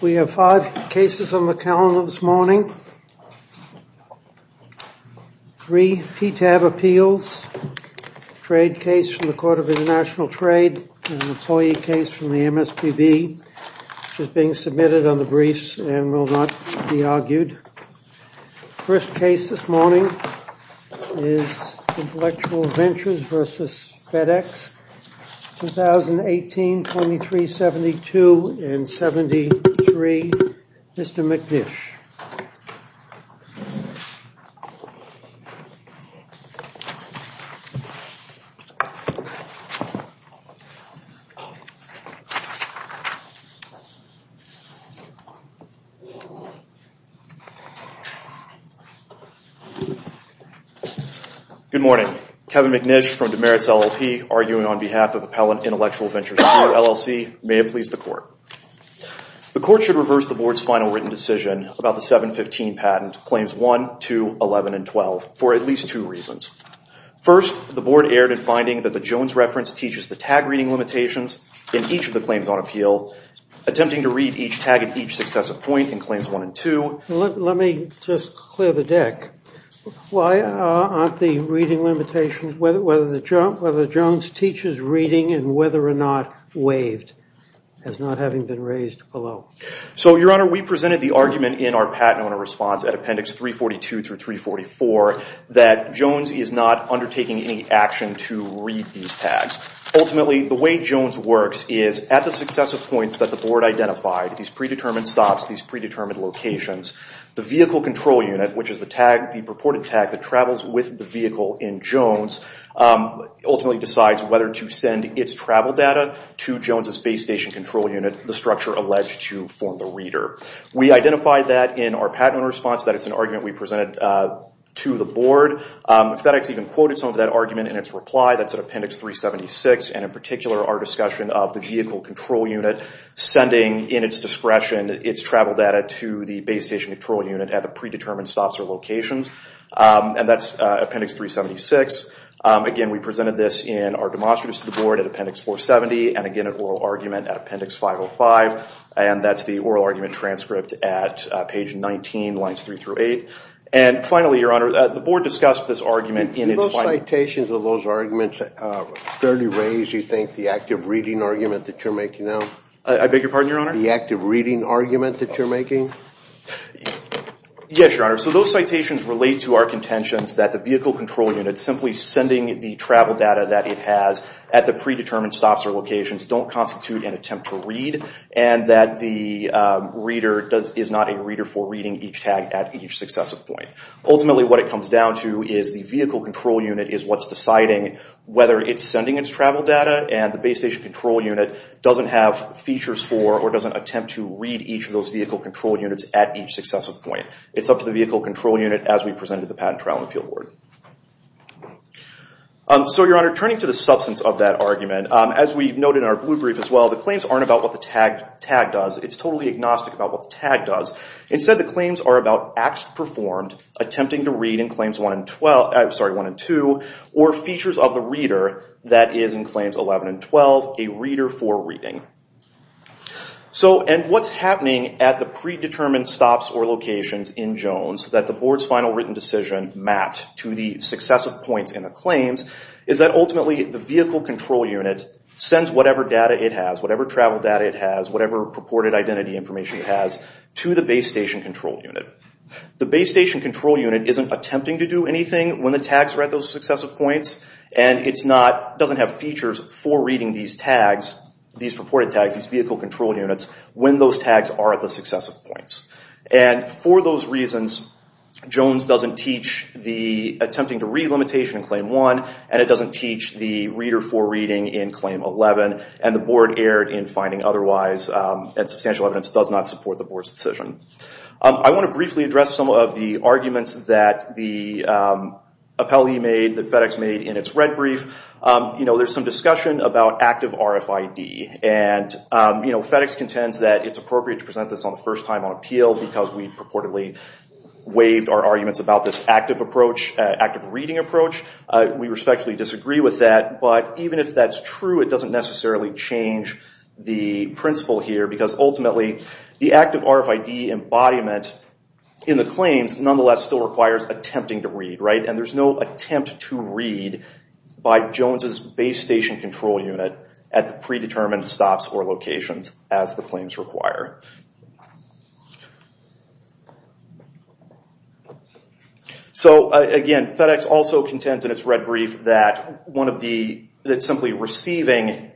We have five cases on the calendar this morning, three PTAB appeals, trade case from the Court of International Trade, and an employee case from the MSPB, which is being submitted on the briefs and will not be argued. The first case this morning is Intellectual Ventures v. FedEx, 2018, 2372 and 73, Mr. McNish. Good morning. Kevin McNish from Demarest LLP, arguing on behalf of Appellant Intellectual Ventures II LLC. May it please the Court. The Court should reverse the Board's final written decision about the 715 patent, Claims 1, 2, 11, and 12, for at least two reasons. First, the Board erred in finding that the Jones reference teaches the tag reading limitations in each of the claims on appeal, attempting to read each tag at each successive point in Claims 1 and 2. Let me just clear the deck. Why aren't the reading limitations, whether Jones teaches reading and whether or not waived, as not having been raised below? So Your Honor, we presented the argument in our patent owner response at Appendix 342 through 344 that Jones is not undertaking any action to read these tags. Ultimately, the way Jones works is at the successive points that the Board identified, these predetermined stops, these predetermined locations, the Vehicle Control Unit, which is the purported tag that travels with the vehicle in Jones, ultimately decides whether to send its travel data to Jones' Base Station Control Unit, the structure alleged to form the reader. We identified that in our patent owner response, that it's an argument we presented to the Board. FedEx even quoted some of that argument in its reply, that's at Appendix 376, and in particular our discussion of the Vehicle Control Unit sending, in its discretion, its travel data to the Base Station Control Unit at the predetermined stops or locations, and that's Appendix 376. Again, we presented this in our demonstratives to the Board at Appendix 470, and again, an oral argument at Appendix 505, and that's the oral argument transcript at page 19, lines 3 through 8. And finally, Your Honor, the Board discussed this argument in its final... Did those citations or those arguments fairly raise, you think, the active reading argument that you're making now? I beg your pardon, Your Honor? The active reading argument that you're making? Yes, Your Honor. So those citations relate to our contentions that the Vehicle Control Unit simply sending the travel data that it has at the predetermined stops or locations don't constitute an attempt to read, and that the reader is not a reader for reading each tag at each successive point. Ultimately, what it comes down to is the Vehicle Control Unit is what's deciding whether it's sending its travel data, and the Base Station Control Unit doesn't have features for, or doesn't attempt to read each of those Vehicle Control Units at each successive point. It's up to the Vehicle Control Unit as we presented the Patent Trial and Appeal Board. So Your Honor, turning to the substance of that argument, as we noted in our blue brief as well, the claims aren't about what the tag does. It's totally agnostic about what the tag does. Instead, the claims are about acts performed attempting to read in Claims 1 and 2, or features of the reader that is in Claims 11 and 12, a reader for reading. So, and what's happening at the predetermined stops or locations in Jones that the Board's final written decision mapped to the successive points in the claims, is that ultimately the Vehicle Control Unit sends whatever data it has, whatever travel data it has, whatever purported identity information it has, to the Base Station Control Unit. The Base Station Control Unit isn't attempting to do anything when the tags are at those purported tags, these Vehicle Control Units, when those tags are at the successive points. And for those reasons, Jones doesn't teach the attempting to read limitation in Claim 1, and it doesn't teach the reader for reading in Claim 11, and the Board erred in finding otherwise and substantial evidence does not support the Board's decision. I want to briefly address some of the arguments that the appellee made, that FedEx made in its red brief. You know, there's some discussion about active RFID, and you know, FedEx contends that it's appropriate to present this on the first time on appeal because we purportedly waived our arguments about this active approach, active reading approach. We respectfully disagree with that, but even if that's true, it doesn't necessarily change the principle here, because ultimately the active RFID embodiment in the claims nonetheless still requires attempting to read, right? And there's no attempt to read by Jones' Base Station Control Unit at the predetermined stops or locations as the claims require. So again, FedEx also contends in its red brief that one of the, that simply receiving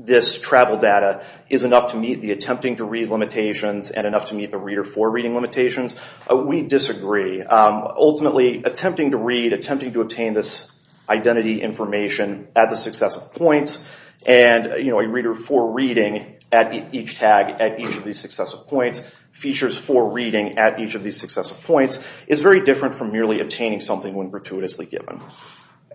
this travel data is enough to meet the attempting to read limitations and enough to meet the reader for reading limitations. We disagree. Ultimately, attempting to read, attempting to obtain this identity information at the successive points, and you know, a reader for reading at each tag, at each of these successive points, features for reading at each of these successive points, is very different from merely obtaining something when gratuitously given.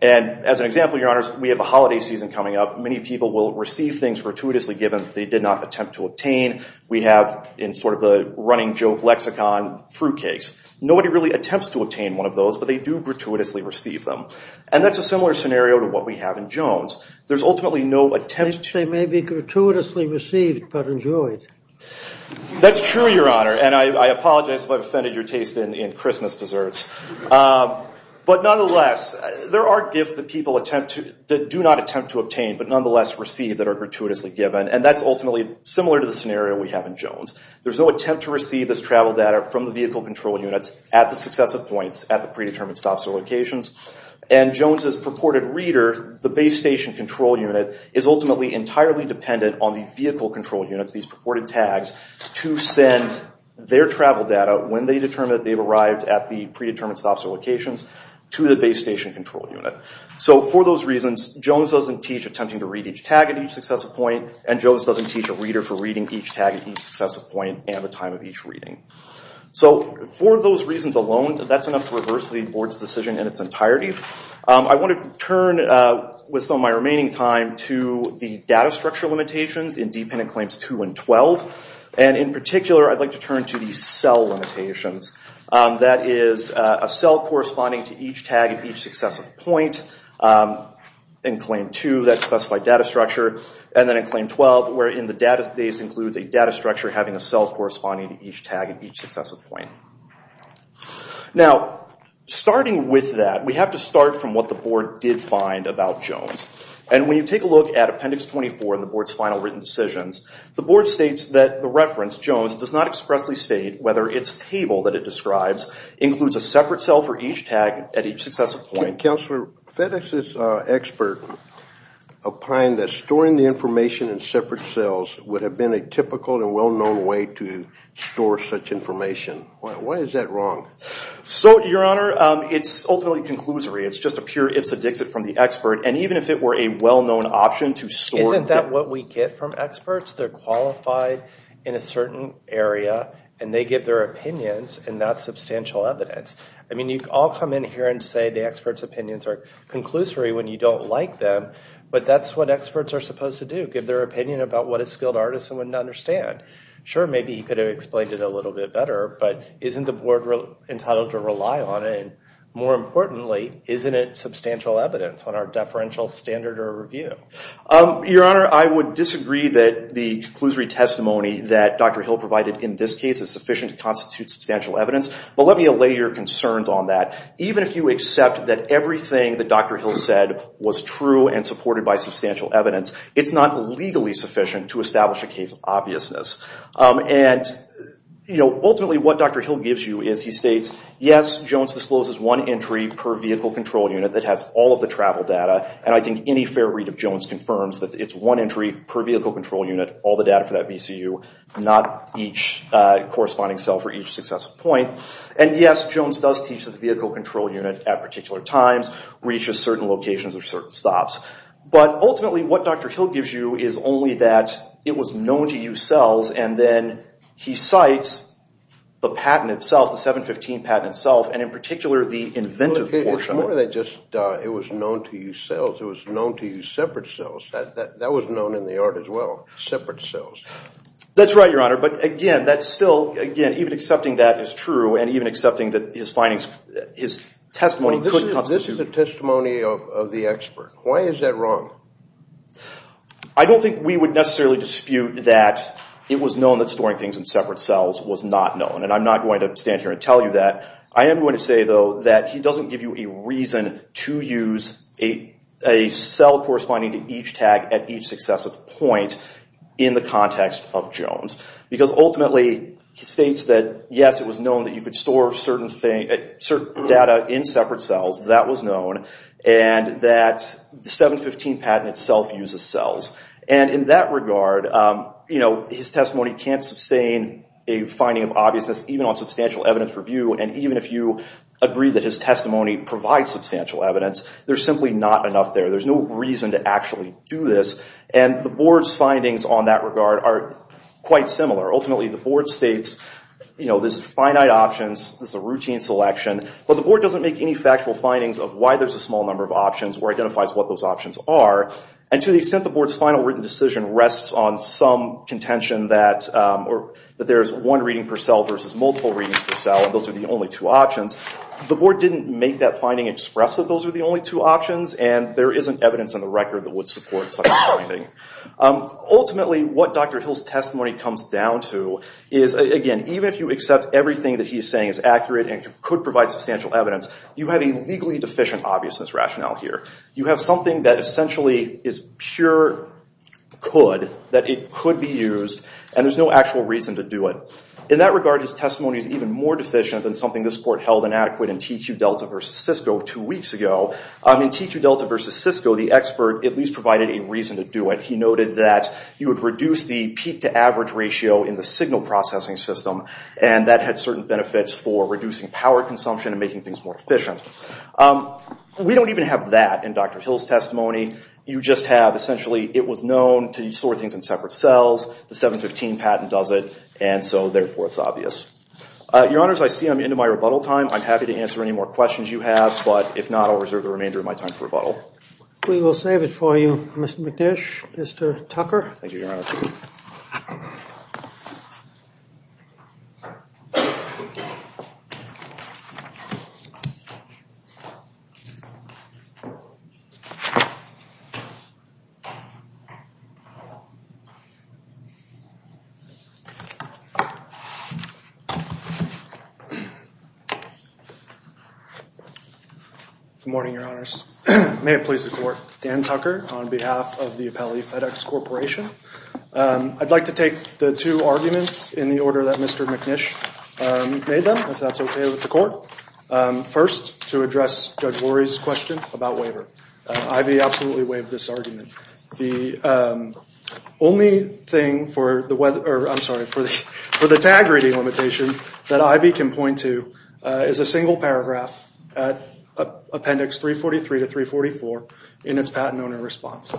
And as an example, your honors, we have a holiday season coming up. Many people will receive things gratuitously given that they did not attempt to obtain. We have, in sort of the running joke lexicon, fruit cakes. Nobody really attempts to obtain one of those, but they do gratuitously receive them. And that's a similar scenario to what we have in Jones. There's ultimately no attempt to- They may be gratuitously received, but enjoyed. That's true, your honor. And I apologize if I've offended your taste in Christmas desserts. But nonetheless, there are gifts that people attempt to, that do not attempt to obtain, but nonetheless receive that are gratuitously given. And that's ultimately similar to the scenario we have in Jones. There's no attempt to receive this travel data from the vehicle control units at the successive points, at the predetermined stops or locations. And Jones' purported reader, the base station control unit, is ultimately entirely dependent on the vehicle control units, these purported tags, to send their travel data, when they determine that they've arrived at the predetermined stops or locations, to the base station control unit. So for those reasons, Jones doesn't teach attempting to read each tag at each successive point, and Jones doesn't teach a reader for reading each tag at each successive point and the time of each reading. So for those reasons alone, that's enough to reverse the board's decision in its entirety. I want to turn, with some of my remaining time, to the data structure limitations in dependent claims 2 and 12. And in particular, I'd like to turn to the cell limitations. That is, a cell corresponding to each tag at each successive point in claim 2, that and then in claim 12, where in the database includes a data structure having a cell corresponding to each tag at each successive point. Now starting with that, we have to start from what the board did find about Jones. And when you take a look at appendix 24 in the board's final written decisions, the board states that the reference, Jones, does not expressly state whether its table that it describes includes a separate cell for each tag at each successive point. And Counselor, FedEx's expert opined that storing the information in separate cells would have been a typical and well-known way to store such information. Why is that wrong? So, Your Honor, it's ultimately conclusory. It's just a pure ipsodixit from the expert. And even if it were a well-known option to store- Isn't that what we get from experts? They're qualified in a certain area, and they give their opinions, and that's substantial evidence. I mean, you all come in here and say the experts' opinions are conclusory when you don't like them, but that's what experts are supposed to do, give their opinion about what a skilled artist wouldn't understand. Sure, maybe he could have explained it a little bit better, but isn't the board entitled to rely on it? More importantly, isn't it substantial evidence on our deferential standard or review? Your Honor, I would disagree that the conclusory testimony that Dr. Hill provided in this case is sufficient to constitute substantial evidence, but let me allay your concerns on that. Even if you accept that everything that Dr. Hill said was true and supported by substantial evidence, it's not legally sufficient to establish a case of obviousness. And ultimately, what Dr. Hill gives you is he states, yes, Jones discloses one entry per vehicle control unit that has all of the travel data, and I think any fair read of Jones confirms that it's one entry per vehicle control unit, all the data for that VCU, not each corresponding cell for each successful point. And yes, Jones does teach that the vehicle control unit at particular times reaches certain locations or certain stops. But ultimately, what Dr. Hill gives you is only that it was known to use cells, and then he cites the patent itself, the 715 patent itself, and in particular, the inventive portion. It wasn't just that it was known to use cells, it was known to use separate cells. That was known in the art as well, separate cells. That's right, Your Honor, but again, that's still, again, even accepting that is true and even accepting that his findings, his testimony couldn't constitute... This is a testimony of the expert. Why is that wrong? I don't think we would necessarily dispute that it was known that storing things in separate cells was not known, and I'm not going to stand here and tell you that. I am going to say, though, that he doesn't give you a reason to use a cell corresponding to each tag at each successive point in the context of Jones, because ultimately, he states that yes, it was known that you could store certain data in separate cells. That was known, and that the 715 patent itself uses cells. In that regard, his testimony can't sustain a finding of obviousness even on substantial evidence review, and even if you agree that his testimony provides substantial evidence, there's simply not enough there. There's no reason to actually do this, and the Board's findings on that regard are quite similar. Ultimately, the Board states, you know, this is finite options, this is a routine selection, but the Board doesn't make any factual findings of why there's a small number of options or identifies what those options are, and to the extent the Board's final written decision rests on some contention that there's one reading per cell versus multiple readings per cell, and those are the only two options, the Board didn't make that finding express that those are the only two options, and there isn't evidence on the record that would support such a finding. Ultimately, what Dr. Hill's testimony comes down to is, again, even if you accept everything that he's saying is accurate and could provide substantial evidence, you have a legally deficient obviousness rationale here. You have something that essentially is pure could, that it could be used, and there's no actual reason to do it. In that regard, his testimony is even more deficient than something this Court held inadequate in TQ Delta versus Cisco two weeks ago. In TQ Delta versus Cisco, the expert at least provided a reason to do it. He noted that you would reduce the peak to average ratio in the signal processing system, and that had certain benefits for reducing power consumption and making things more efficient. We don't even have that in Dr. Hill's testimony. You just have, essentially, it was known to sort things in separate cells, the 715 patent does it, and so, therefore, it's obvious. Your Honors, I see I'm into my rebuttal time. I'm happy to answer any more questions you have, but if not, I'll reserve the remainder of my time for rebuttal. We will save it for you, Mr. McNish. Mr. Tucker. Thank you, Your Honor. Good morning, Your Honors. May it please the Court. Dan Tucker on behalf of the Appellee FedEx Corporation. I'd like to take the two arguments in the order that Mr. McNish made them, if that's okay with the Court. First, to address Judge Lurie's question about waiver. Ivy absolutely waived this argument. The only thing for the tag reading limitation that Ivy can point to is a single paragraph at Appendix 343 to 344 in its patent owner response.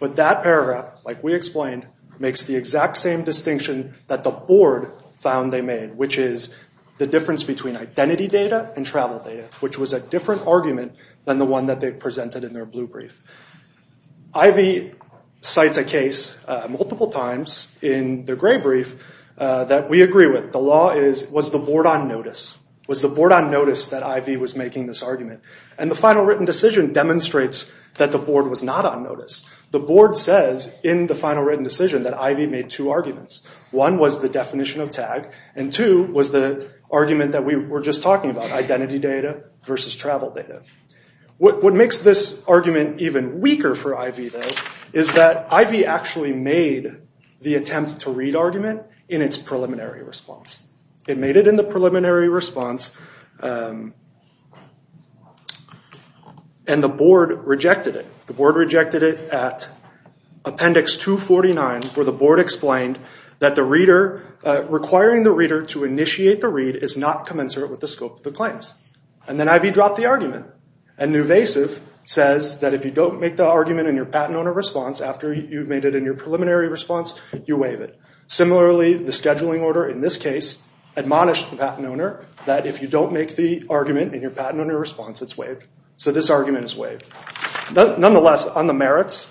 But that paragraph, like we explained, makes the exact same distinction that the Board found they made, which is the difference between identity data and travel data, which was a different argument than the one that they presented in their blue brief. Ivy cites a case multiple times in the gray brief that we agree with. The law is, was the Board on notice? Was the Board on notice that Ivy was making this argument? And the final written decision demonstrates that the Board was not on notice. The Board says in the final written decision that Ivy made two arguments. One was the definition of tag, and two was the argument that we were just talking about, identity data versus travel data. What makes this argument even weaker for Ivy, though, is that Ivy actually made the attempt to read argument in its preliminary response. It made it in the preliminary response, and the Board rejected it. The Board rejected it at Appendix 249, where the Board explained that the reader, requiring the reader to initiate the read is not commensurate with the scope of the claims. And then Ivy dropped the argument. And Nuvasiv says that if you don't make the argument in your patent owner response after you've made it in your preliminary response, you waive it. Similarly, the scheduling order in this case admonished the patent owner that if you don't make the argument in your patent owner response, it's waived. So this argument is waived. Nonetheless, on the merits,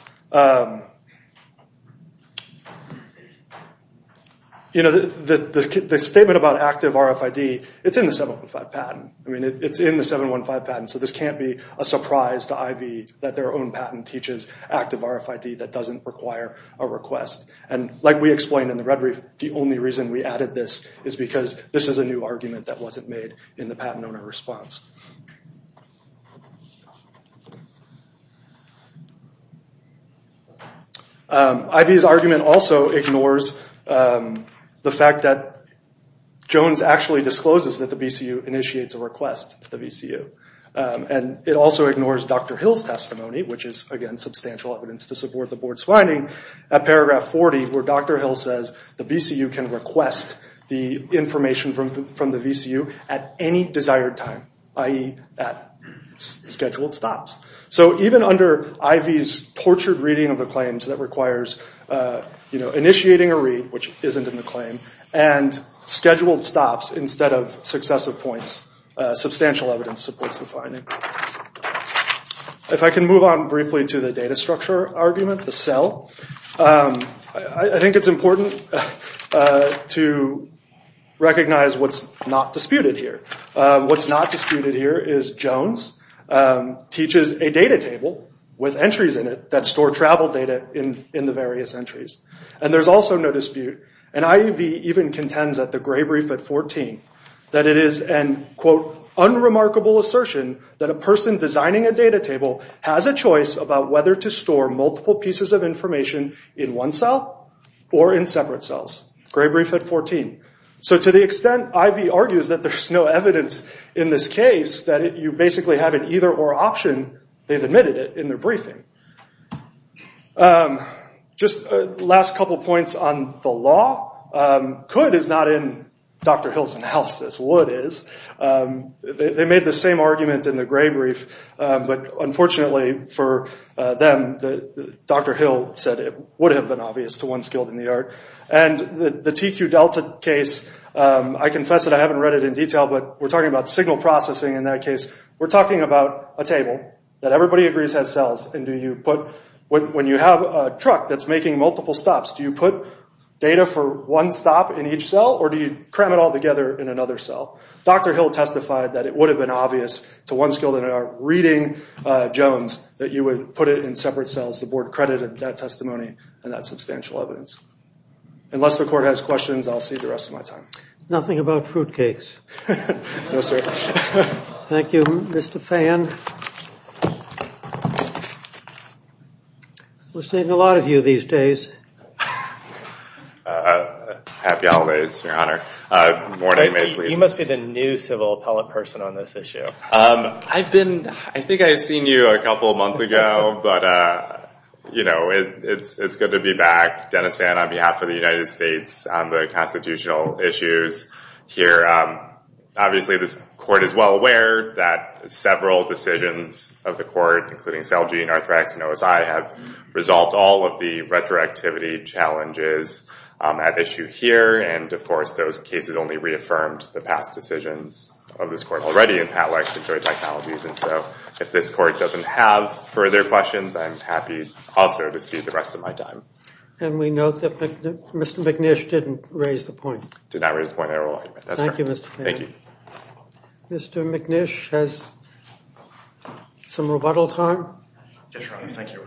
the statement about active RFID, it's in the 7.5 patent. It's in the 7.15 patent, so this can't be a surprise to Ivy that their own patent teaches active RFID that doesn't require a request. And like we explained in the Red Reef, the only reason we added this is because this is a new argument that wasn't made in the patent owner response. Ivy's argument also ignores the fact that Jones actually discloses that the BCU initiates a request to the BCU. And it also ignores Dr. Hill's testimony, which is, again, substantial evidence to support the board's finding, at paragraph 40 where Dr. Hill says the BCU can request the information from the BCU at any desired time, i.e. at scheduled stops. So even under Ivy's tortured reading of the claims that requires initiating a read, which substantial evidence supports the finding. If I can move on briefly to the data structure argument, the CEL, I think it's important to recognize what's not disputed here. What's not disputed here is Jones teaches a data table with entries in it that store travel data in the various entries. And there's also no dispute. And Ivy even contends at the Gray Brief at 14 that it is an, quote, unremarkable assertion that a person designing a data table has a choice about whether to store multiple pieces of information in one cell or in separate cells. Gray Brief at 14. So to the extent Ivy argues that there's no evidence in this case that you basically have an either or option, they've admitted it in their briefing. Just last couple points on the law. Could is not in Dr. Hill's analysis. Would is. They made the same argument in the Gray Brief, but unfortunately for them, Dr. Hill said it would have been obvious to one skilled in the art. And the TQ Delta case, I confess that I haven't read it in detail, but we're talking about signal processing in that case. We're talking about a table that everybody agrees has cells in between. When you have a truck that's making multiple stops, do you put data for one stop in each cell or do you cram it all together in another cell? Dr. Hill testified that it would have been obvious to one skilled in the art reading Jones that you would put it in separate cells. The board credited that testimony and that substantial evidence. Unless the court has questions, I'll save the rest of my time. Nothing about fruitcakes. No, sir. Thank you, Mr. Fayen. We're seeing a lot of you these days. Happy holidays, Your Honor. More nightmares, please. You must be the new civil appellate person on this issue. I think I've seen you a couple of months ago, but it's good to be back, Dennis Fan, on behalf of the United States on the constitutional issues here. Obviously, this court is well aware that several decisions of the court, including Celgene, Arthrex, and OSI, have resolved all of the retroactivity challenges at issue here. Of course, those cases only reaffirmed the past decisions of this court already in Pat Larkin's joint technologies. If this court doesn't have further questions, I'm happy also to save the rest of my time. We note that Mr. McNish didn't raise the point. Did not raise the point at all. Thank you, Mr. Fayen. Thank you. Mr. McNish has some rebuttal time. Yes, Your Honor. Thank you.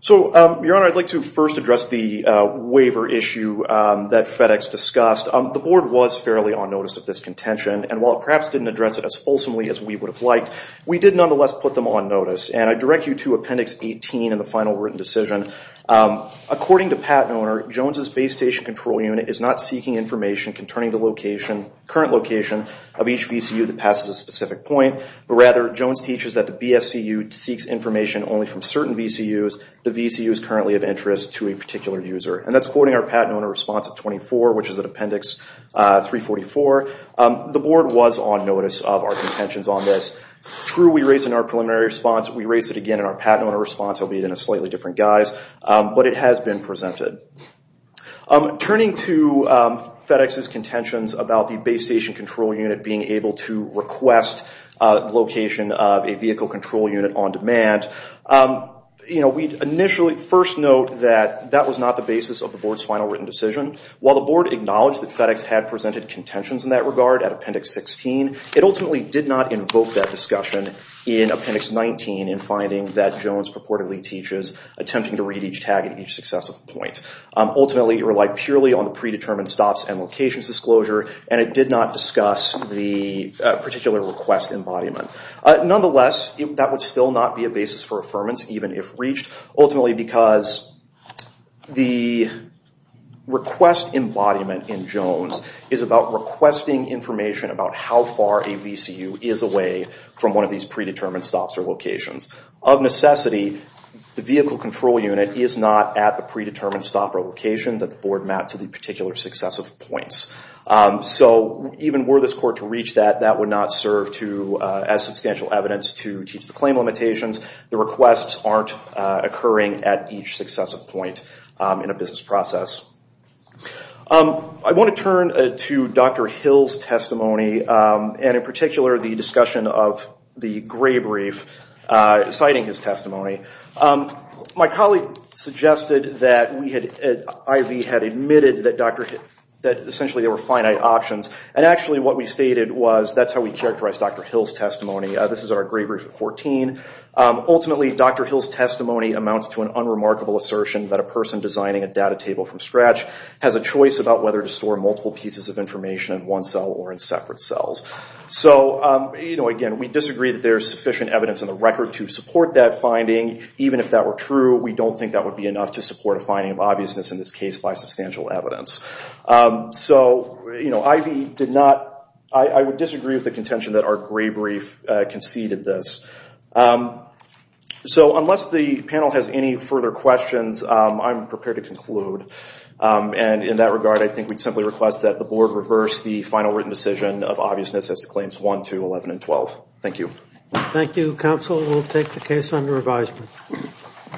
So, Your Honor, I'd like to first address the waiver issue that FedEx discussed. The board was fairly on notice of this contention, and while it perhaps didn't address it as fulsomely as we would have liked, we did nonetheless put them on notice. And I direct you to Appendix 18 in the final written decision. According to Pat and Owner, Jones's Base Station Control Unit is not seeking information concerning the current location of each VCU that passes a specific point, but rather Jones teaches that the BFCU seeks information only from certain VCUs the VCU is currently of interest to a particular user. And that's quoting our Pat and Owner response at 24, which is at Appendix 344. The board was on notice of our contentions on this. True, we raised it in our preliminary response. We raised it again in our Pat and Owner response, albeit in a slightly different guise. But it has been presented. Turning to FedEx's contentions about the Base Station Control Unit being able to request the location of a vehicle control unit on demand, you know, we initially first note that that was not the basis of the board's final written decision. While the board acknowledged that FedEx had presented contentions in that regard at Appendix 16, it ultimately did not invoke that discussion in Appendix 19 in finding that Jones purportedly teaches attempting to read each tag at each successive point. Ultimately, it relied purely on the predetermined stops and locations disclosure, and it did not discuss the particular request embodiment. Nonetheless, that would still not be a basis for affirmance, even if reached, ultimately because the request embodiment in Jones is about requesting information about how far a VCU is away from one of these predetermined stops or locations. Of necessity, the vehicle control unit is not at the predetermined stop or location that the board mapped to the particular successive points. So even were this court to reach that, that would not serve as substantial evidence to teach the claim limitations. The requests aren't occurring at each successive point in a business process. I want to turn to Dr. Hill's testimony, and in particular, the discussion of the gray brief citing his testimony. My colleague suggested that IV had admitted that essentially there were finite options, and actually what we stated was that's how we characterize Dr. Hill's testimony. This is our gray brief at 14. Ultimately, Dr. Hill's testimony amounts to an unremarkable assertion that a person designing a data table from scratch has a choice about whether to store multiple pieces of information in one cell or in separate cells. So again, we disagree that there's sufficient evidence in the record to support that finding. Even if that were true, we don't think that would be enough to support a finding of obviousness in this case by substantial evidence. So IV did not, I would disagree with the contention that our gray brief conceded this. So unless the panel has any further questions, I'm prepared to conclude. And in that regard, I think we'd simply request that the board reverse the final written decision of obviousness as to claims 1, 2, 11, and 12. Thank you. Thank you, counsel. We'll take the case under advisement.